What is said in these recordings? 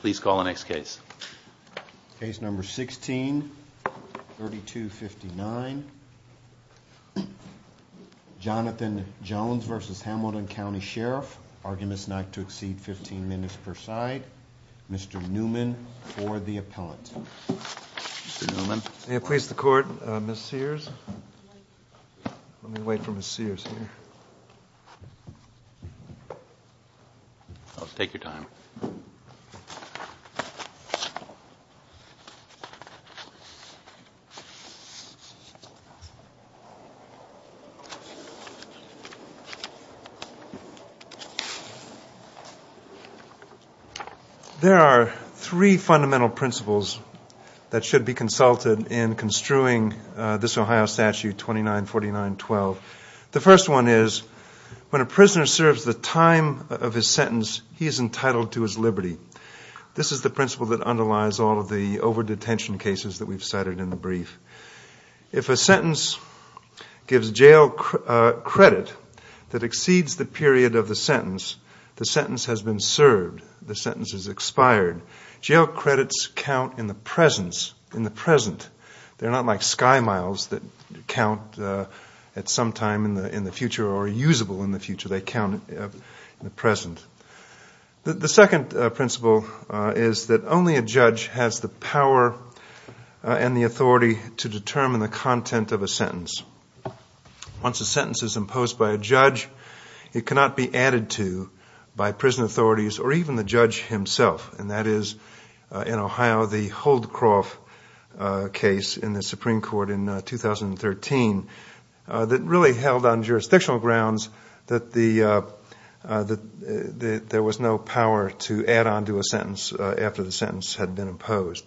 Please call the next case. Case number 16, 3259. Jonathan Jones v. Hamilton County Sheriff. Arguments not to exceed 15 minutes per side. Mr. Newman for the appellant. May I please the court, Ms. Sears? Let me wait for Ms. Sears here. I'll take your time. There are three fundamental principles that should be consulted in construing this Ohio When a prisoner serves the time of his sentence, he is entitled to his liberty. This is the principle that underlies all of the over-detention cases that we've cited in the brief. If a sentence gives jail credit that exceeds the period of the sentence, the sentence has been served. The sentence is expired. Jail credits count in the present. They're not like sky miles that count at some time in the future or are usable in the future. They count in the present. The second principle is that only a judge has the power and the authority to determine the content of a sentence. Once a sentence is imposed by a judge, it cannot be added to by prison authorities or even the judge himself. That is in Ohio, the Holdcroft case in the Supreme Court in 2013 that really held on jurisdictional grounds that there was no power to add on to a sentence after the sentence had been imposed.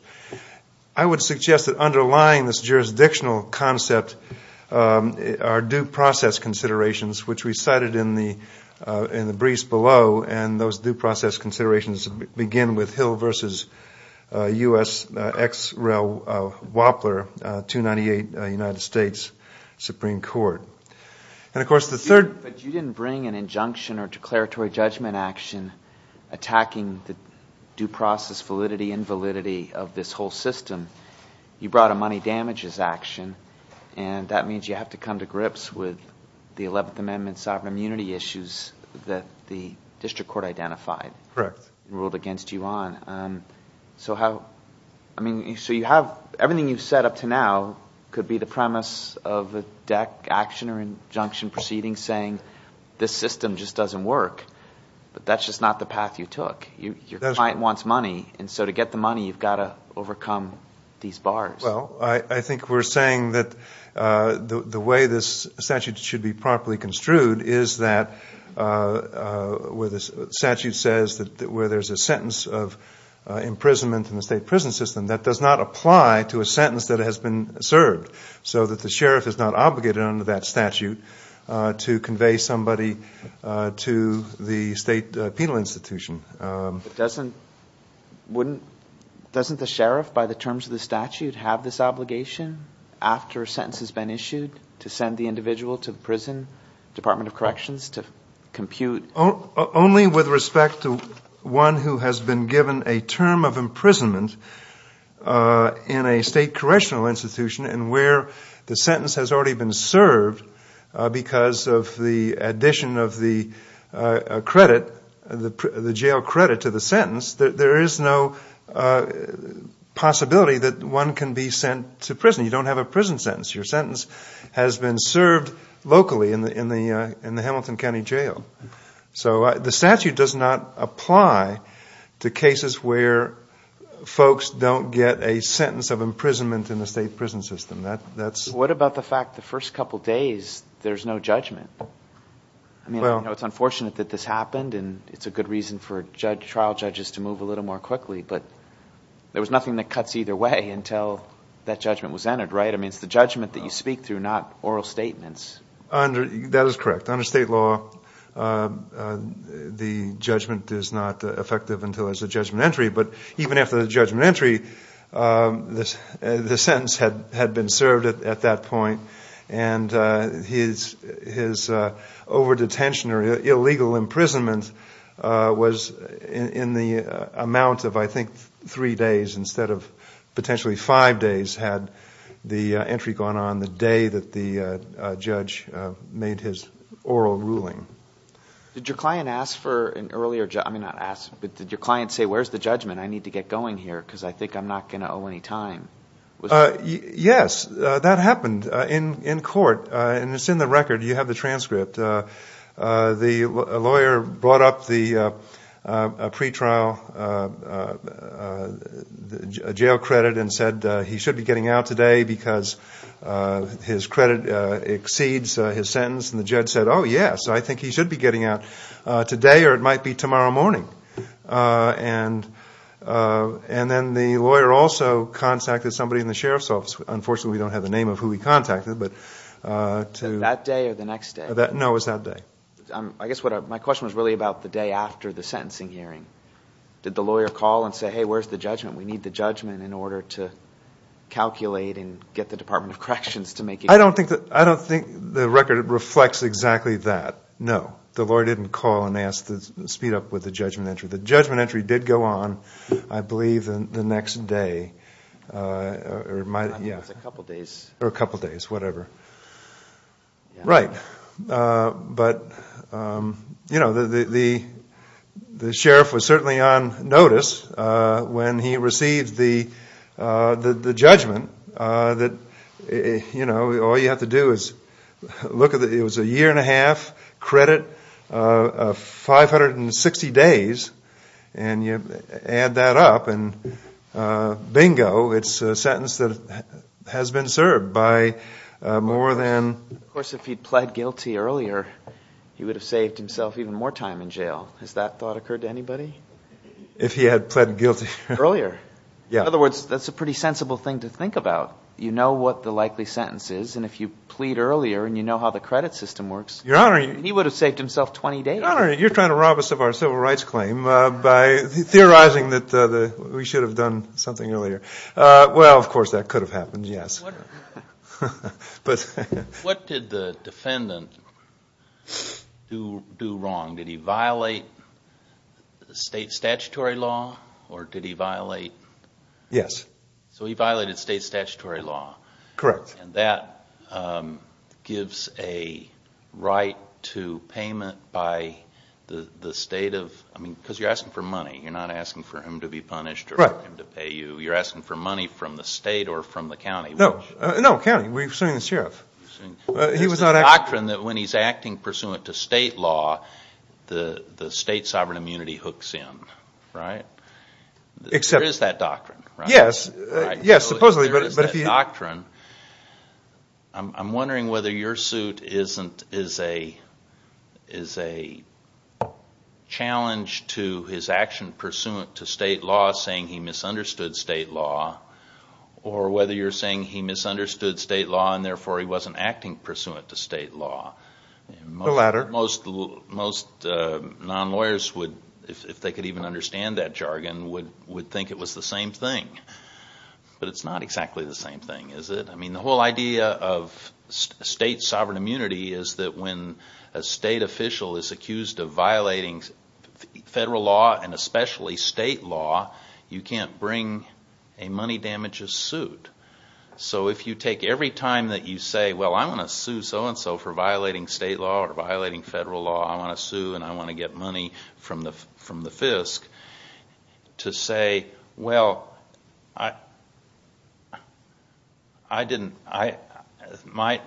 I would suggest that underlying this jurisdictional concept are due process considerations, which we cited in the briefs below. Those due process considerations begin with Hill v. U.S. ex rel. Wappler, 298 United States Supreme Court. Of course, the third... But you didn't bring an injunction or declaratory judgment action attacking the due process validity, invalidity of this whole system. You brought a money damages action, and that means you have to come to grips with the 11th Amendment sovereign immunity issues that the district court identified and ruled against you on. Everything you've said up to now could be the premise of a DEC action or injunction proceeding saying, this system just doesn't work, but that's just not the path you took. Your client wants money, and so to get the money, you've got to overcome these bars. Well, I think we're saying that the way this statute should be properly construed is that where the statute says that where there's a sentence of imprisonment in the state prison system, that does not apply to a sentence that has been served, so that the sheriff is not obligated under that statute to convey somebody to the state penal institution. Doesn't the sheriff, by the terms of the statute, have this obligation after a sentence has been issued to send the individual to the prison, Department of Corrections, to compute... Only with respect to one who has been given a term of imprisonment in a state correctional institution and where the sentence has already been served because of the addition of the jail credit to the sentence, there is no possibility that one can be sent to prison. You don't have a prison sentence. Your sentence has been served locally in the Hamilton County Jail. So the statute does not apply to cases where folks don't get a sentence of imprisonment in the state prison system. What about the fact the first couple days, there's no judgment? I mean, it's unfortunate that this happened and it's a good reason for trial judges to move a little more quickly, but there was nothing that cuts either way until that judgment was entered, right? I mean, it's the judgment that you speak through, not oral statements. That is correct. Under state law, the judgment is not effective until there's a judgment entry. But even after the judgment entry, the sentence had been served at that point. And his over-detention or illegal imprisonment was in the amount of, I think, three days instead of potentially five days had the entry gone on the day that the oral ruling. Did your client say, where's the judgment? I need to get going here because I think I'm not going to owe any time. Yes, that happened in court. And it's in the record. You have the transcript. The lawyer brought up the pre-trial jail credit and said he should be getting out today because his credit exceeds his sentence. And the judge said, oh, yes, I think he should be getting out today or it might be tomorrow morning. And then the lawyer also contacted somebody in the sheriff's office. Unfortunately, we don't have the name of who he contacted. That day or the next day? No, it was that day. I guess my question was really about the day after the sentencing hearing. Did the lawyer call and say, hey, where's the judgment? We need the judgment in order to calculate and get the Department of Corrections to make a judgment. I don't think the record reflects exactly that. No, the lawyer didn't call and ask to speed up with the judgment entry. The judgment entry did go on, I believe, the next day or a couple of days, whatever. Right. But the sheriff was certainly on notice when he received the judgment that you know, all you have to do is look at it was a year and a half credit of 560 days. And you add that up and bingo, it's a sentence that has been served by more than. Of course, if he pled guilty earlier, he would have saved himself even more time in jail. Has that thought occurred to anybody? If he had pled guilty earlier? Yeah. In other words, that's a pretty sensible thing to think about. You know what the likely sentence is. And if you plead earlier and you know how the credit system works. Your Honor. He would have saved himself 20 days. Your Honor, you're trying to rob us of our civil rights claim by theorizing that we should have done something earlier. Well, of course, that could have happened. Yes. What did the defendant do wrong? Did he violate state statutory law or did he violate? Yes. So he violated state statutory law. Correct. And that gives a right to payment by the state of... I mean, because you're asking for money. You're not asking for him to be punished or him to pay you. You're asking for money from the state or from the county. No. No, county. We're suing the sheriff. He was not acting... There's a doctrine that when he's acting pursuant to state law, the state sovereign immunity hooks in, right? Except... There is that doctrine, right? Yes, supposedly. There is that doctrine. I'm wondering whether your suit is a challenge to his action pursuant to state law, saying he misunderstood state law, or whether you're saying he misunderstood state law and therefore he wasn't acting pursuant to state law. The latter. Most non-lawyers, if they could even understand that jargon, would think it was the same thing. But it's not exactly the same thing, is it? I mean, the whole idea of state sovereign immunity is that when a state official is accused of violating federal law and especially state law, you can't bring a money damages suit. So if you take every time that you say, well, I'm going to sue so-and-so for violating state law or violating federal law, I want to sue and I want to get money from the FISC, to say, well, my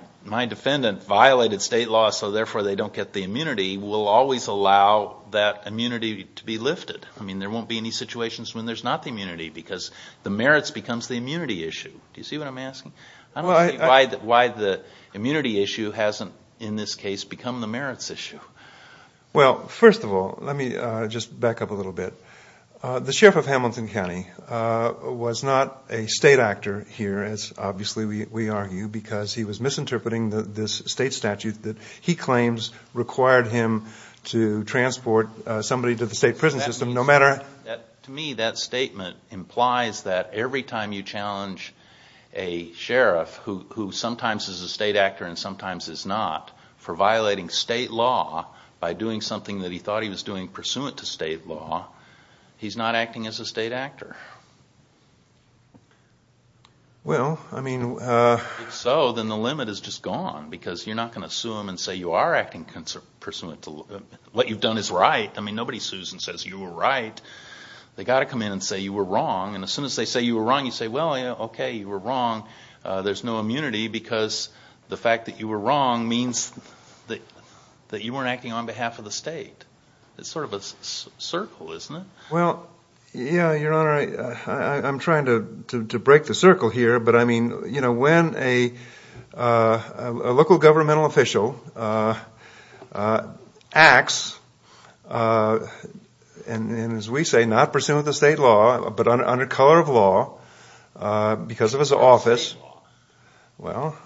defendant violated state law so therefore they don't get the immunity, will always allow that immunity to be lifted. I mean, there won't be any situations when there's not the immunity, because the merits becomes the immunity issue. Do you see what I'm asking? I don't see why the immunity issue hasn't, in this case, become the merits issue. Well, first of all, let me just back up a little bit. The sheriff of Hamilton County was not a state actor here, as obviously we argue, because he was misinterpreting this state statute that he claims required him to transport somebody to the state prison system, no matter... To me, that statement implies that every time you challenge a sheriff who sometimes is a state actor and sometimes is not for violating state law by doing something that he thought he was doing pursuant to state law, he's not acting as a state actor. Well, I mean... So then the limit is just gone, because you're not going to sue him and say, you are acting pursuant to... What you've done is right. I mean, nobody sues and says, you were right. They got to come in and say, you were wrong. And as soon as they say, you were wrong, you say, well, yeah, okay, you were wrong. There's no immunity, because the fact that you were wrong means that you weren't acting on behalf of the state. It's sort of a circle, isn't it? Well, yeah, Your Honor, I'm trying to break the circle here. But I mean, you know, when a local governmental official acts, and as we say, not pursuant to state law, but under color of law, because of his office, well,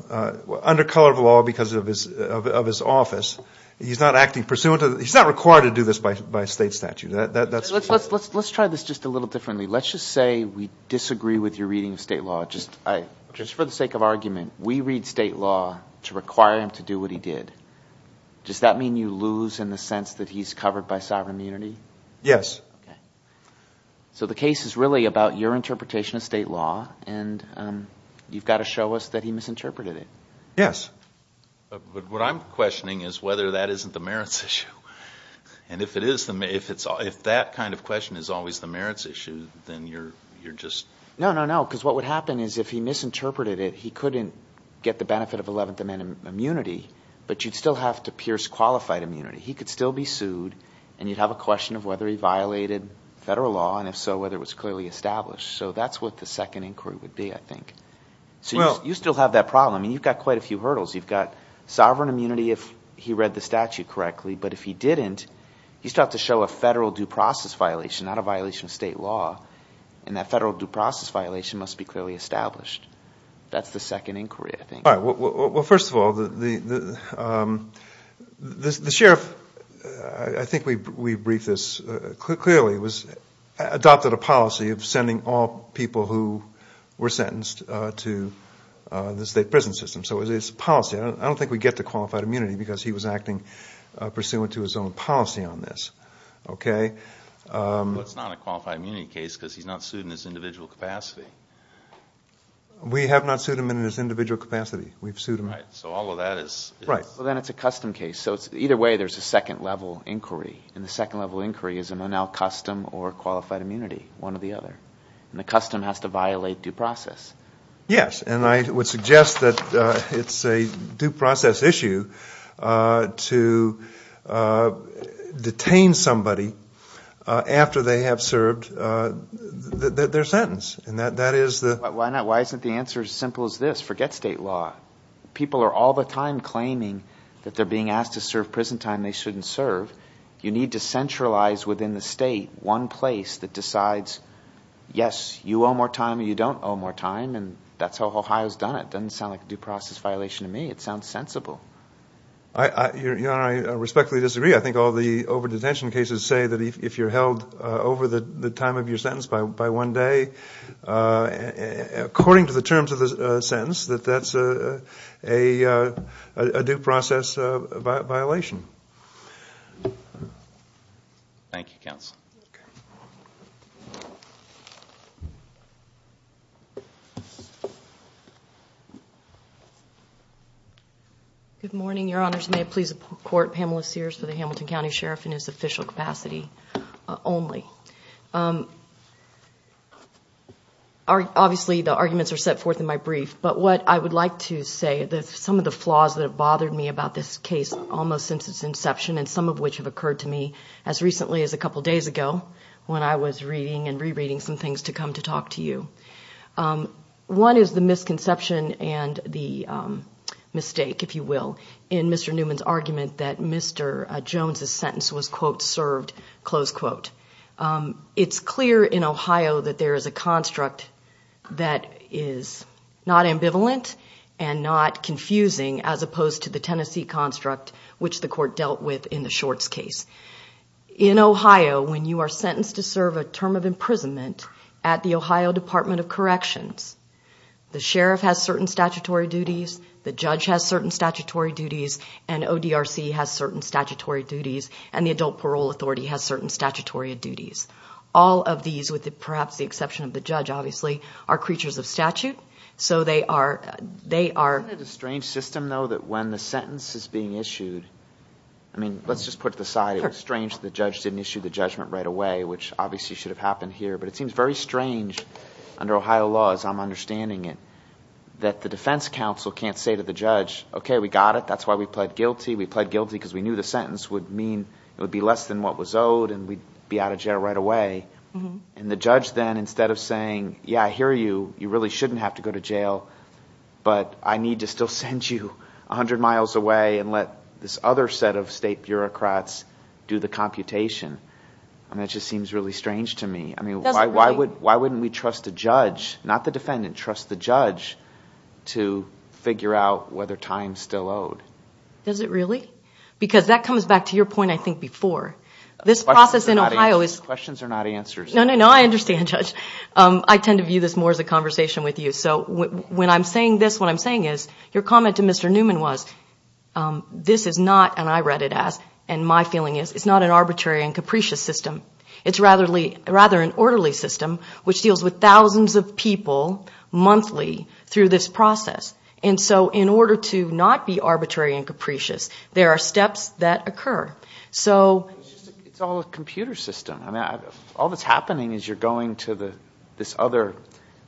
under color of law, because of his office, he's not acting pursuant to... He's not required to do this by state statute. Let's try this just a little differently. Let's just say we disagree with your reading of state law. Just for the sake of argument, we read state law to require him to do what he did. Does that mean you lose in the sense that he's covered by sovereign immunity? Yes. Okay. So the case is really about your interpretation of state law, and you've got to show us that he misinterpreted it. Yes. But what I'm questioning is whether that isn't the merits issue. And if that kind of question is always the merits issue, then you're just... No, no, no, because what would happen is if he misinterpreted it, he couldn't get the benefit of 11th Amendment immunity, but you'd still have to pierce qualified immunity. He could still be sued, and you'd have a question of whether he violated federal law, and if so, whether it was clearly established. So that's what the second inquiry would be, I think. So you still have that problem, and you've got quite a few hurdles. You've got sovereign immunity if he read the statute correctly, but if he didn't, he's got to show a federal due process violation, not a violation of state law, and that federal due process violation must be clearly established. That's the second inquiry, I think. Well, first of all, the sheriff, I think we briefed this clearly, adopted a policy of sending all people who were sentenced to the state prison system. So it's a policy. I don't think we get to qualified immunity, because he was acting pursuant to his own policy on this, okay? Well, it's not a qualified immunity case because he's not sued in his individual capacity. We have not sued him in his individual capacity. We've sued him. Right. So all of that is... Right. Well, then it's a custom case. So either way, there's a second level inquiry, and the second level inquiry is an unaccustomed or qualified immunity, one or the other, and the custom has to violate due process. Yes, and I would suggest that it's a due process issue to detain somebody after they have served their sentence, and that is the... Why not? Why isn't the answer as simple as this? Forget state law. People are all the time claiming that they're being asked to serve prison time they shouldn't serve. You need to centralize within the state one place that decides, yes, you owe more time or you don't owe more time, and that's how Ohio has done it. It doesn't sound like a due process violation to me. It sounds sensible. Your Honor, I respectfully disagree. I think all the over-detention cases say that if you're held over the time of your sentence by one day, according to the terms of the sentence, that that's a due process violation. Thank you, counsel. Good morning, Your Honors. May it please the Court, Pamela Sears for the Hamilton County Sheriff in his official capacity only. Obviously, the arguments are set forth in my brief, but what I would like to say, some of the flaws that have bothered me about this case almost since its inception, and some of which have occurred to me as recently as a couple days ago when I was reading and rereading some things to come to talk to you. One is the misconception and the mistake, if you will, in Mr. Newman's argument that Mr. Jones's sentence was, quote, served, close quote. It's clear in Ohio that there is a construct that is not ambivalent and not confusing as opposed to the Tennessee construct, which the Court dealt with in the Shorts case. In Ohio, when you are sentenced to serve a term of imprisonment at the Ohio Department of Corrections, the sheriff has certain statutory duties, the judge has certain statutory duties, and ODRC has certain statutory duties, and the Adult Parole Authority has certain statutory duties. All of these, with perhaps the exception of the judge obviously, are creatures of statute, so they are... Isn't it a strange system though that when the sentence is being issued, I mean, let's just put it to the side, it was strange the judge didn't issue the judgment right away, which obviously should have happened here, but it seems very strange under Ohio law as I'm understanding it, that the defense counsel can't say to the judge, okay, we got it, that's why we pled guilty, we pled guilty because we knew the sentence would mean it would be less than what was owed and we'd be out of jail right away. And the judge then, instead of saying, yeah, I hear you, you really shouldn't have to go to jail, but I need to still send you 100 miles away and let this other set of state bureaucrats do the computation. I mean, it just seems really strange to me. I mean, why wouldn't we trust a judge, not the defendant, trust the judge to figure out whether time's still owed? Does it really? Because that comes back to your point, I think, before. This process in Ohio is... Questions are not answers. No, no, no, I understand, Judge. I tend to view this more as a conversation with you. So when I'm saying this, what I'm saying is, your comment to Mr. Newman was, this is not, and I read it as, and my feeling is, it's not an arbitrary and capricious system. It's rather an orderly system, which deals with thousands of people monthly through this process. And so in order to not be arbitrary and capricious, there are steps that occur. So... It's all a computer system. I mean, all that's happening is you're going to this other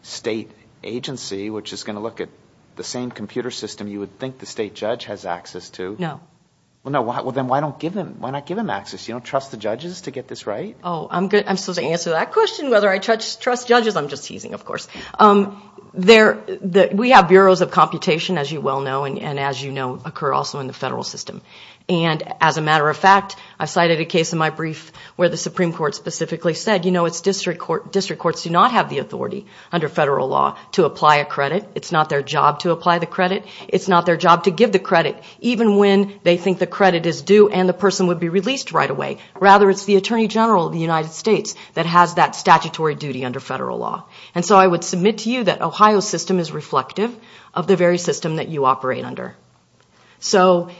state agency, which is going to look at the same computer system you would think the state judge has access to. No. Well, no, well, then why not give him access? You don't trust the judges to get this right? Oh, I'm supposed to answer that question, whether I trust judges. I'm just teasing, of course. We have bureaus of computation, as you well know, and as you know, occur also in the federal system. And as a matter of fact, I cited a case in my brief where the Supreme Court specifically said, you know, it's district courts do not have the authority under federal law to apply a credit. It's not their job to apply the credit. It's not their job to give the credit, even when they think the credit is due and the person would be released right away. Rather, it's the Attorney General of the United States that has that statutory duty under federal law. And so I would submit to you that Ohio's system is reflective of the very system that you operate under. So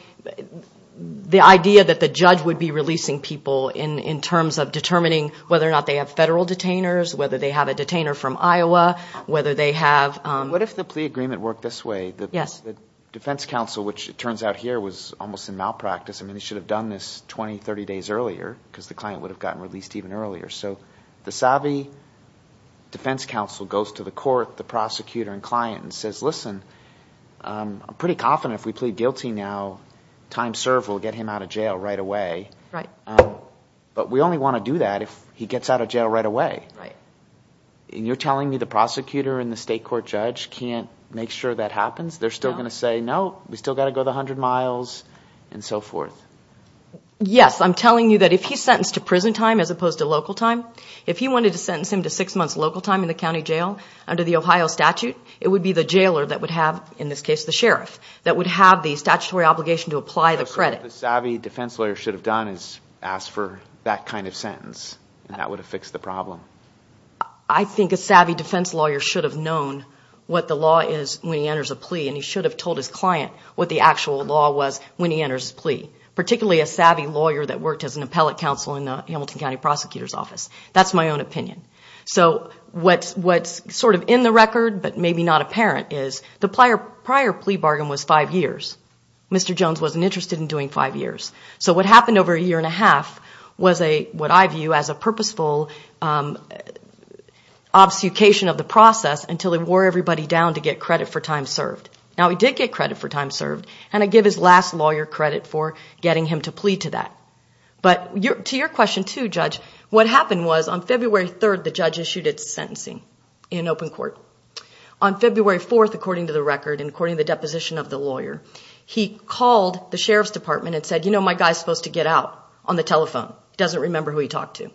the idea that the judge would be releasing people in terms of determining whether or not they have federal detainers, whether they have a detainer from Iowa, whether they have... What if the plea agreement worked this way? Yes. The defense counsel, which it turns out here, was almost in malpractice. I mean, he should have done this 20, 30 days earlier because the client would have gotten released even earlier. So the savvy defense counsel goes to the court, the prosecutor and client and says, listen, I'm pretty confident if we plead guilty now, time served, we'll get him out of jail right away. Right. But we only want to do that if he gets out of jail right away. Right. And you're telling me the prosecutor and the state court judge can't make sure that happens? They're still going to say, no, we still got to go the 100 miles and so forth. Yes. I'm telling you that if he's sentenced to prison time as opposed to local time, if he wanted to sentence him to six months local time in the county jail under the Ohio statute, it would be the jailer that would have, in this case, the sheriff, that would have the statutory obligation to apply the credit. The savvy defense lawyer should have done is asked for that kind of sentence and that would have fixed the problem. I think a savvy defense lawyer should have known what the law is when he enters a plea and he should have told his client what the actual law was when he enters plea, particularly a savvy lawyer that worked as an appellate counsel in the Hamilton County prosecutor's office. That's my own opinion. So what's sort of in the record, but maybe not apparent, is the prior plea bargain was five years. Mr. Jones wasn't interested in doing five years. So what happened over a year and a half was what I view as a purposeful obfuscation of the process until he wore everybody down to get credit for time served. Now he did get credit for time served and I give his last lawyer credit for getting him to plea to that. But to your question too, Judge, what happened was on February 3rd, the judge issued its sentencing in open court. On February 4th, according to the record and according to the deposition of the lawyer, he called the sheriff's department and said, you know, my guy's supposed to get out on the telephone. He doesn't remember who he talked to.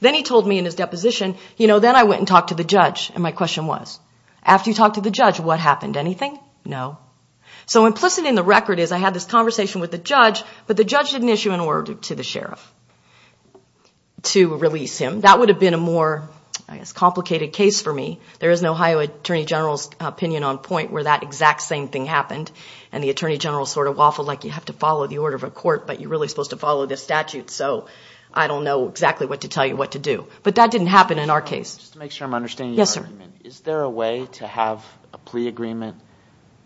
Then he told me in his deposition, you know, then I went and talked to the judge and my question was, after you talked to the judge, what happened? Anything? No. So implicit in the record is I had this conversation with the judge, but the judge didn't issue an order to the sheriff to release him. That would have been a more, I guess, complicated case for me. There is an Ohio attorney general's opinion on point where that exact same thing happened and the attorney general sort of waffled like you have to follow the order of a court, but you're really supposed to follow this statute. So I don't know exactly what to tell you what to do, but that didn't happen in our case. Just to make sure I'm understanding your argument. Is there a way to have a plea agreement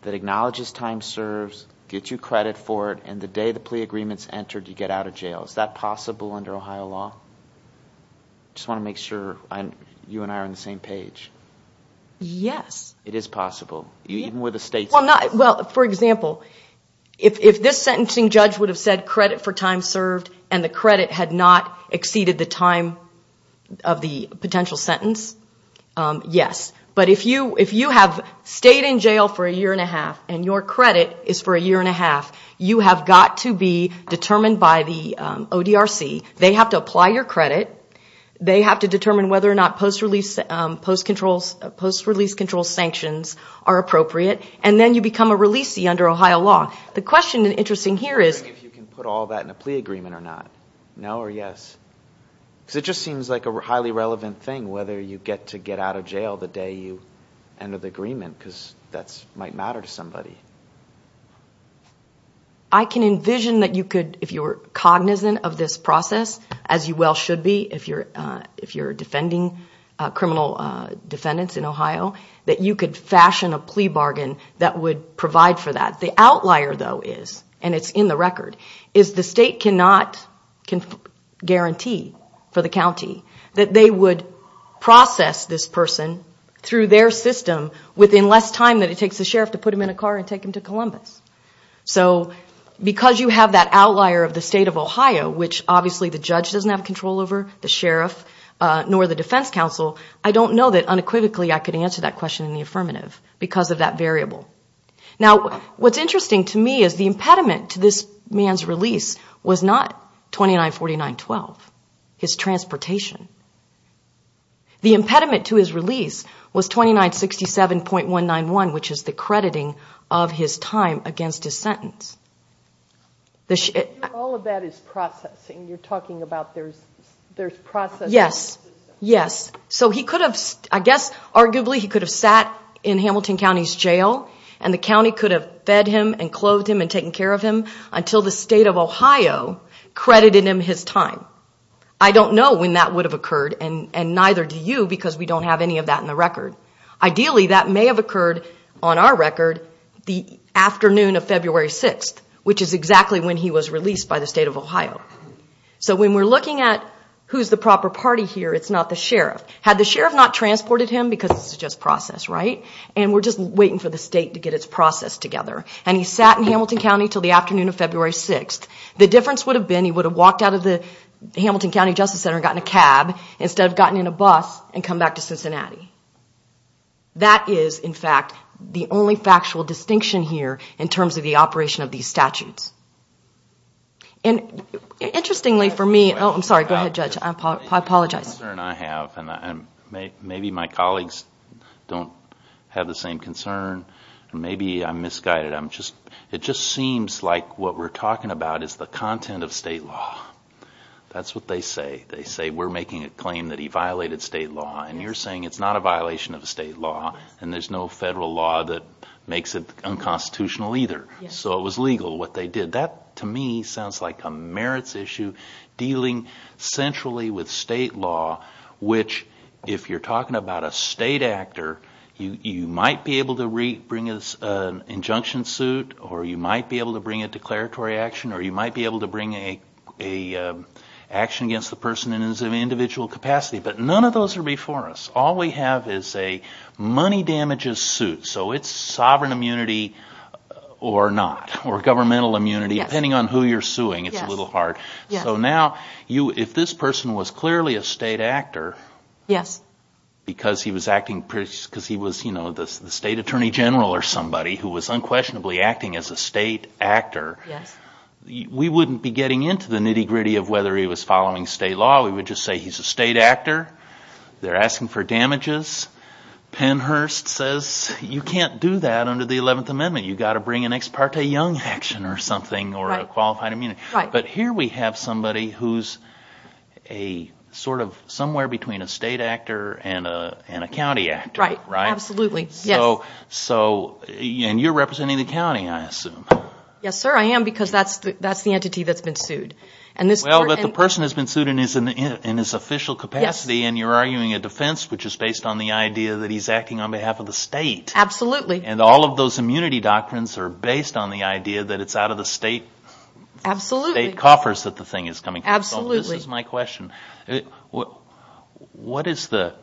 that acknowledges time serves, gets you credit for it, and the day the plea agreement's entered, you get out of jail? Is that possible under Ohio law? I just want to make sure you and I are on the same page. Yes. It is possible, even with a state sentence. Well, for example, if this sentencing judge would have said credit for time served and the credit had not exceeded the time of the potential sentence, yes. But if you have stayed in jail for a year and a half and your credit is for a year and a half, you have got to be determined by the ODRC. They have to apply your credit. They have to determine whether or not post-release control sanctions are appropriate. And then you become a releasee under Ohio law. The question interesting here is... I'm wondering if you can put all that in a plea agreement or not. No or yes? Because it just seems like a highly relevant thing whether you get to get out of jail the day you enter the agreement, because that might matter to somebody. I can envision that you could, if you're cognizant of this process, as you well should be if you're defending criminal defendants in Ohio, that you could fashion a plea bargain that would provide for that. The outlier though is, and it's in the record, is the state cannot guarantee for the county that they would process this person through their system within less time than it takes the sheriff to put him in a car and take him to Columbus. So because you have that outlier of the state of Ohio, which obviously the judge doesn't have control over, the sheriff, nor the defense counsel, I don't know that unequivocally I could answer that question in the affirmative because of that variable. Now, what's interesting to me is the impediment to this man's release was not 2949.12, his transportation. The impediment to his release was 2967.191, which is the crediting of his time against his sentence. All of that is processing. You're talking about there's processing. Yes. Yes. So he could have, I guess, arguably, he could have sat in Hamilton County's jail and the county could have fed him and clothed him and taken care of him until the state of Ohio credited him his time. I don't know when that would have happened. And neither do you because we don't have any of that in the record. Ideally, that may have occurred on our record the afternoon of February 6th, which is exactly when he was released by the state of Ohio. So when we're looking at who's the proper party here, it's not the sheriff. Had the sheriff not transported him because it's just process, right? And we're just waiting for the state to get its process together. And he sat in Hamilton County until the afternoon of February 6th. The difference would have been he would have walked out of the Hamilton County Justice Center and gotten a cab instead of gotten in a bus and come back to Cincinnati. That is, in fact, the only factual distinction here in terms of the operation of these statutes. And interestingly for me... Oh, I'm sorry. Go ahead, Judge. I apologize. The concern I have and maybe my colleagues don't have the same concern and maybe I'm misguided. It just seems like what we're talking about is the content of state law. That's what they say. They say we're making a claim that he violated state law. And you're saying it's not a violation of state law and there's no federal law that makes it unconstitutional either. So it was legal what they did. That to me sounds like a merits issue dealing centrally with state law, which if you're talking about a state actor, you might be able to bring an injunction suit or you might be able to bring a declaratory action or you might be able to bring an action against the person in an individual capacity. But none of those are before us. All we have is a money damages suit. So it's sovereign immunity or not or governmental immunity depending on who you're suing. It's a little hard. So now if this person was clearly a state actor... Yes. ...because he was acting... because he was the state attorney general or somebody who was unquestionably acting as a state actor... Yes. ...we wouldn't be getting into the nitty-gritty of whether he was following state law. We would just say he's a state actor. They're asking for damages. Pennhurst says you can't do that under the 11th Amendment. You've got to bring an ex parte young action or something or a qualified immunity. Right. But here we have somebody who's a sort of... somewhere between a state actor and a county actor. Right. Right. Absolutely. Yes. So and you're representing the county, I assume. Yes, sir. I am because that's the entity that's been sued. And this person... Well, but the person has been sued in his official capacity... Yes. ...and you're arguing a defense which is based on the idea that he's acting on behalf of the state. Absolutely. And all of those immunity doctrines are based on the idea that it's out of the state... Absolutely. ...state coffers that the thing is coming from. Absolutely. So this is my question. What is the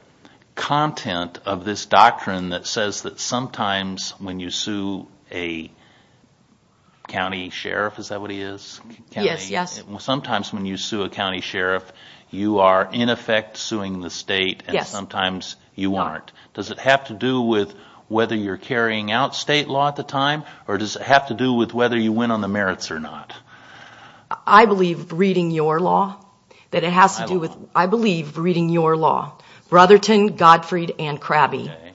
content of this doctrine that says that sometimes when you sue a county sheriff, is that what he is? Yes, yes. Sometimes when you sue a county sheriff, you are in effect suing the state... Yes. ...and sometimes you aren't. Does it have to do with whether you're carrying out state law at the time? Or does it have to do with whether you win on the merits or not? I believe reading your law that it has to do with... I believe reading your law. Brotherton, Gottfried, and Krabbe. Okay.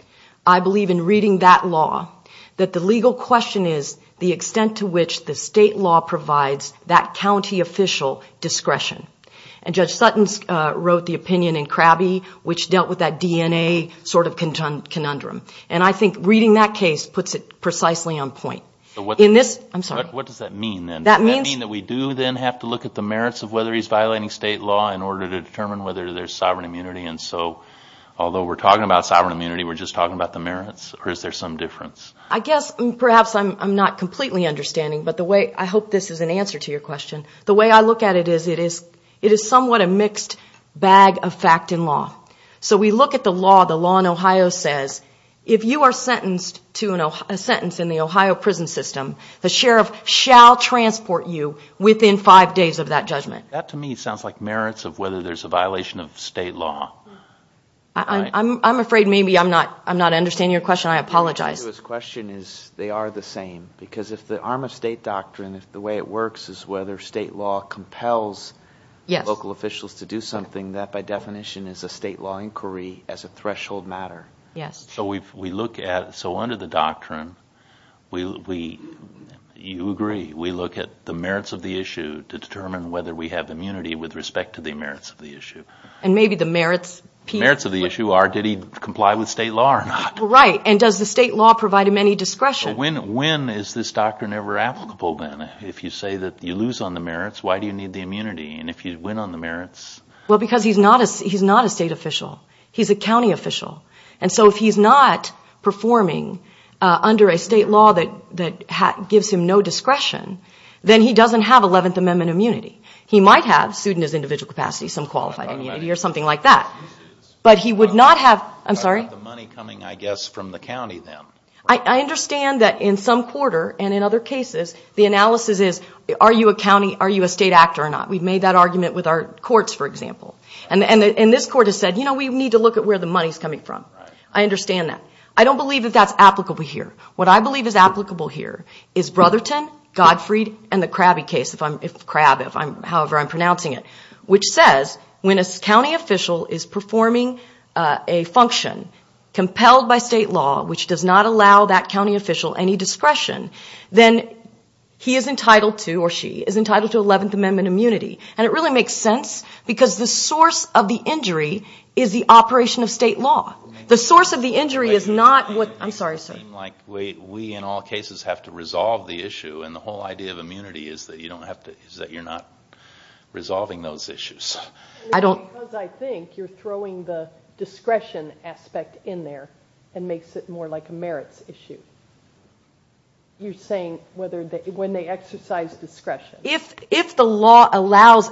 I believe in reading that law that the legal question is the extent to which the state law provides that county official discretion. And Judge Sutton wrote the opinion in Krabbe which dealt with that DNA sort of conundrum. And I think reading that case puts it precisely on point. In this... I'm sorry. What does that mean then? That means... Does that mean that we do then have to look at the merits of whether he's violating state law in order to determine whether there's sovereign immunity? And so although we're talking about sovereign immunity, we're just talking about the merits? Or is there some difference? I guess perhaps I'm not completely understanding. But the way... I hope this is an answer to your question. The way I look at it is it is somewhat a mixed bag of fact and law. So we look at the law. The law in Ohio says if you are sentenced to a sentence in the Ohio prison system, the sheriff shall transport you within five days of that judgment. That to me sounds like merits of whether there's a violation of state law. I'm afraid maybe I'm not understanding your question. I apologize. His question is they are the same. Because if the arm of state doctrine, if the way it works is whether state law compels... Yes. ...local officials to do something, that by definition is a state law inquiry as a threshold matter. Yes. So we look at... So under the doctrine, you agree, we look at the merits of the issue to determine whether we have immunity with respect to the merits of the issue. And maybe the merits... Merits of the issue are did he comply with state law or not? Right. And does the state law provide him any discretion? When is this doctrine ever applicable then? If you say that you lose on the merits, why do you need the immunity? And if you win on the merits... Well, because he's not a state official. He's a county official. And so if he's not performing under a state law that gives him no discretion, then he doesn't have 11th Amendment immunity. He might have, in his individual capacity, some qualified immunity or something like that. But he would not have... I'm sorry? ...the money coming, I guess, from the county then. I understand that in some quarter and in other cases, the analysis is, are you a county, are you a state actor or not? We've made that argument with our courts, for example. And this court has said, you know, we need to look at where the money's coming from. I understand that. I don't believe that that's applicable here. What I believe is applicable here is Brotherton, Godfrey and the Crabby case. Crab, however I'm pronouncing it, which says when a county official is performing a function compelled by state law, which does not allow that county official any discretion, then he is entitled to, or she, is entitled to 11th Amendment immunity. And it really makes sense because the source of the injury is the operation of state law. The source of the injury is not what... I'm sorry, sir? Like, wait, we in all cases have to resolve the issue. And the whole idea of immunity is that you're not resolving those issues. I don't... Because I think you're throwing the discretion aspect in there and makes it more like a merits issue. You're saying when they exercise discretion. If the law allows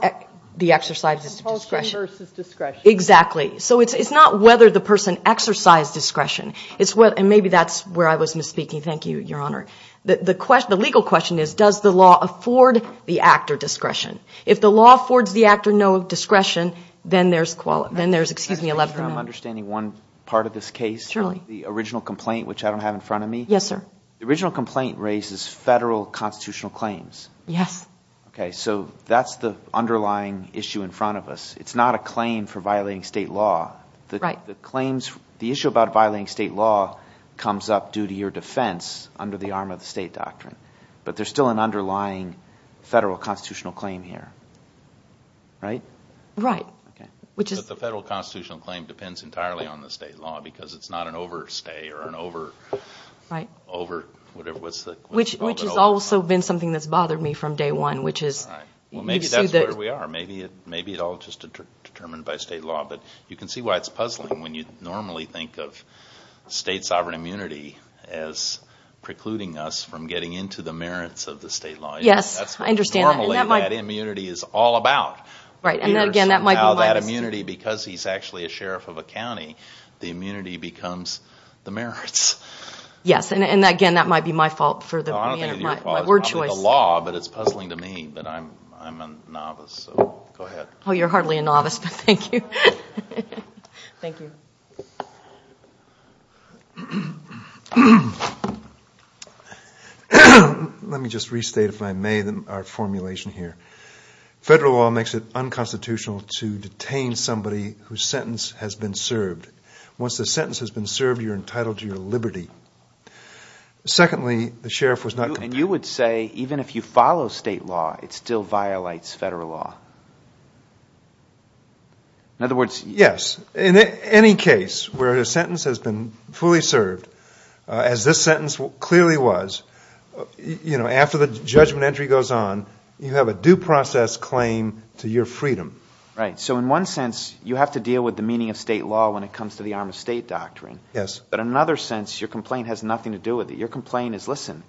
the exercise of discretion... Compulsion versus discretion. Exactly. So it's not whether the person exercise discretion. It's what... And maybe that's where I was misspeaking. Thank you, Your Honor. The legal question is, does the law afford the act or discretion? If the law affords the act or no discretion, then there's... Excuse me, 11th Amendment. I'm understanding one part of this case. Surely. The original complaint, which I don't have in front of me. Yes, sir. The original complaint raises federal constitutional claims. Yes. Okay, so that's the underlying issue in front of us. It's not a claim for violating state law. The claims... The issue about violating state law comes up due to your defense under the arm of the state doctrine. But there's still an underlying federal constitutional claim here. Right? Right. Okay. Which is... But the federal constitutional claim depends entirely on the state law because it's not an overstay or an over... Right. Over... Whatever, what's the... Which has also been something that's bothered me from day one, which is... Right. Well, maybe that's where we are. Maybe it all just determined by state law. But you can see why it's puzzling when you normally think of state sovereign immunity as precluding us from getting into the merits of the state law. Yes, I understand. Normally, that immunity is all about. Right. And again, that might be my... That immunity, because he's actually a sheriff of a county, the immunity becomes the merits. Yes. And again, that might be my fault for the... I don't think it's your fault. My word choice. The law, but it's puzzling to me. But I'm a novice, so go ahead. Oh, you're hardly a novice, but thank you. Thank you. Let me just restate, if I may, our formulation here. Federal law makes it unconstitutional to detain somebody whose sentence has been served. Once the sentence has been served, you're entitled to your liberty. Secondly, the sheriff was not... And you would say, even if you follow state law, it still violates federal law. In other words... Yes. In any case where a sentence has been fully served, as this sentence clearly was, after the judgment entry goes on, you have a due process claim to your freedom. Right. So in one sense, you have to deal with the meaning of state law when it comes to the arm of state doctrine. Yes. But in another sense, your complaint has nothing to do with it. Your complaint is, listen,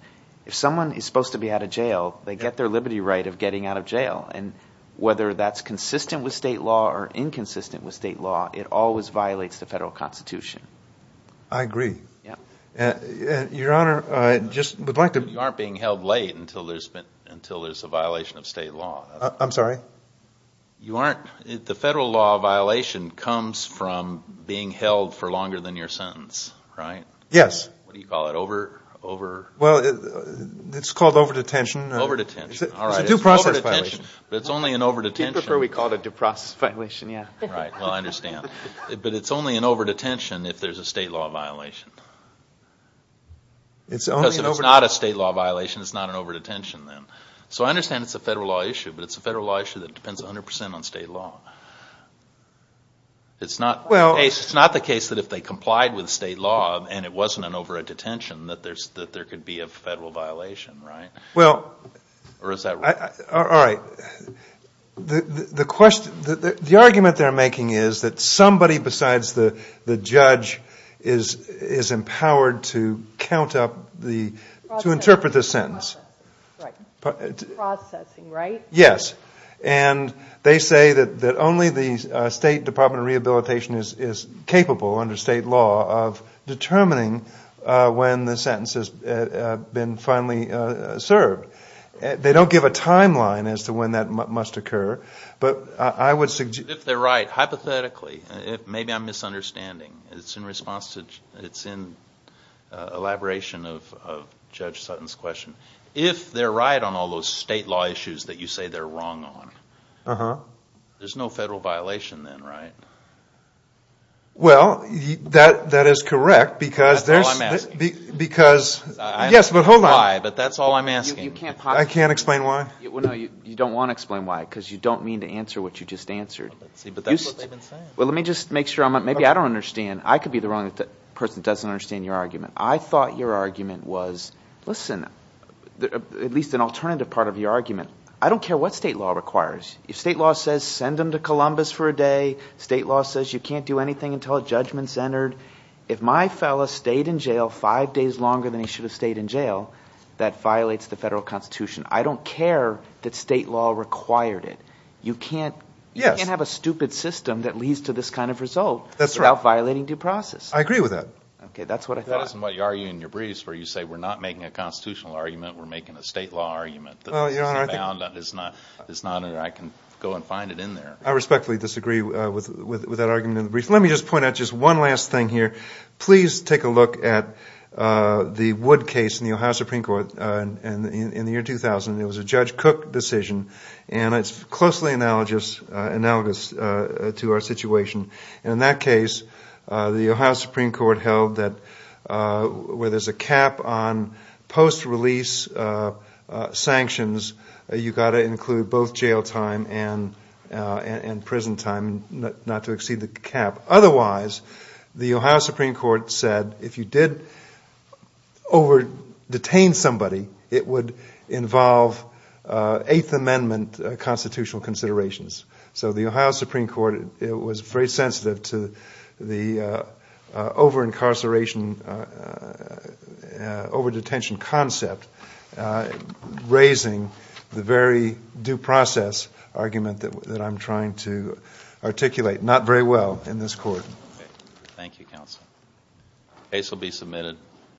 if someone is supposed to be out of jail, they get their liberty right of getting out of jail. And whether that's consistent with state law or inconsistent with state law, it always violates the federal constitution. I agree. Yeah. Your Honor, I just would like to... You aren't being held late until there's a violation of state law. I'm sorry? You aren't... The federal law violation comes from being held for longer than your sentence, right? Yes. What do you call it, over... It's called over-detention. Over-detention. All right. It's a due process violation. But it's only an over-detention. We call it a due process violation, yeah. Right. Well, I understand. But it's only an over-detention if there's a state law violation. It's only an over-detention. Because if it's not a state law violation, it's not an over-detention then. So I understand it's a federal law issue, but it's a federal law issue that depends 100% on state law. It's not the case that if they complied with state law and it wasn't an over-detention that there could be a federal violation, right? Well... Or is that right? All right. Well, the argument they're making is that somebody besides the judge is empowered to count up the... To interpret the sentence. Processing, right? Yes. And they say that only the State Department of Rehabilitation is capable, under state law, of determining when the sentence has been finally served. They don't give a timeline as to when that must occur. But I would suggest... If they're right. Hypothetically. Maybe I'm misunderstanding. It's in response to... It's in elaboration of Judge Sutton's question. If they're right on all those state law issues that you say they're wrong on, there's no federal violation then, right? Well, that is correct because there's... That's all I'm asking. Because... Yes, but hold on. But that's all I'm asking. I can't explain why? No, you don't want to explain why because you don't mean to answer what you just answered. Well, let's see. But that's what they've been saying. Well, let me just make sure I'm... Maybe I don't understand. I could be the wrong person that doesn't understand your argument. I thought your argument was... Listen, at least an alternative part of your argument. I don't care what state law requires. If state law says, send him to Columbus for a day. State law says you can't do anything until a judgment's entered. If my fella stayed in jail five days longer than he should have stayed in jail, that violates the federal constitution. I don't care that state law required it. You can't have a stupid system that leads to this kind of result without violating due process. I agree with that. Okay. That's what I thought. That isn't what you argue in your briefs where you say, we're not making a constitutional argument. We're making a state law argument. It's not that I can go and find it in there. I respectfully disagree with that argument in the brief. Let me just point out just one last thing here. Please take a look at the Wood case in the Ohio Supreme Court in the year 2000. It was a Judge Cook decision and it's closely analogous to our situation. In that case, the Ohio Supreme Court held that where there's a cap on post-release sanctions, you've got to include both jail time and prison time, not to exceed the cap. Otherwise, the Ohio Supreme Court said if you did over-detain somebody, it would involve Eighth Amendment constitutional considerations. So the Ohio Supreme Court was very sensitive to the over-incarceration, over-detention concept, raising the very due process argument that I'm trying to articulate. Not very well in this court. Thank you, counsel. Case will be submitted.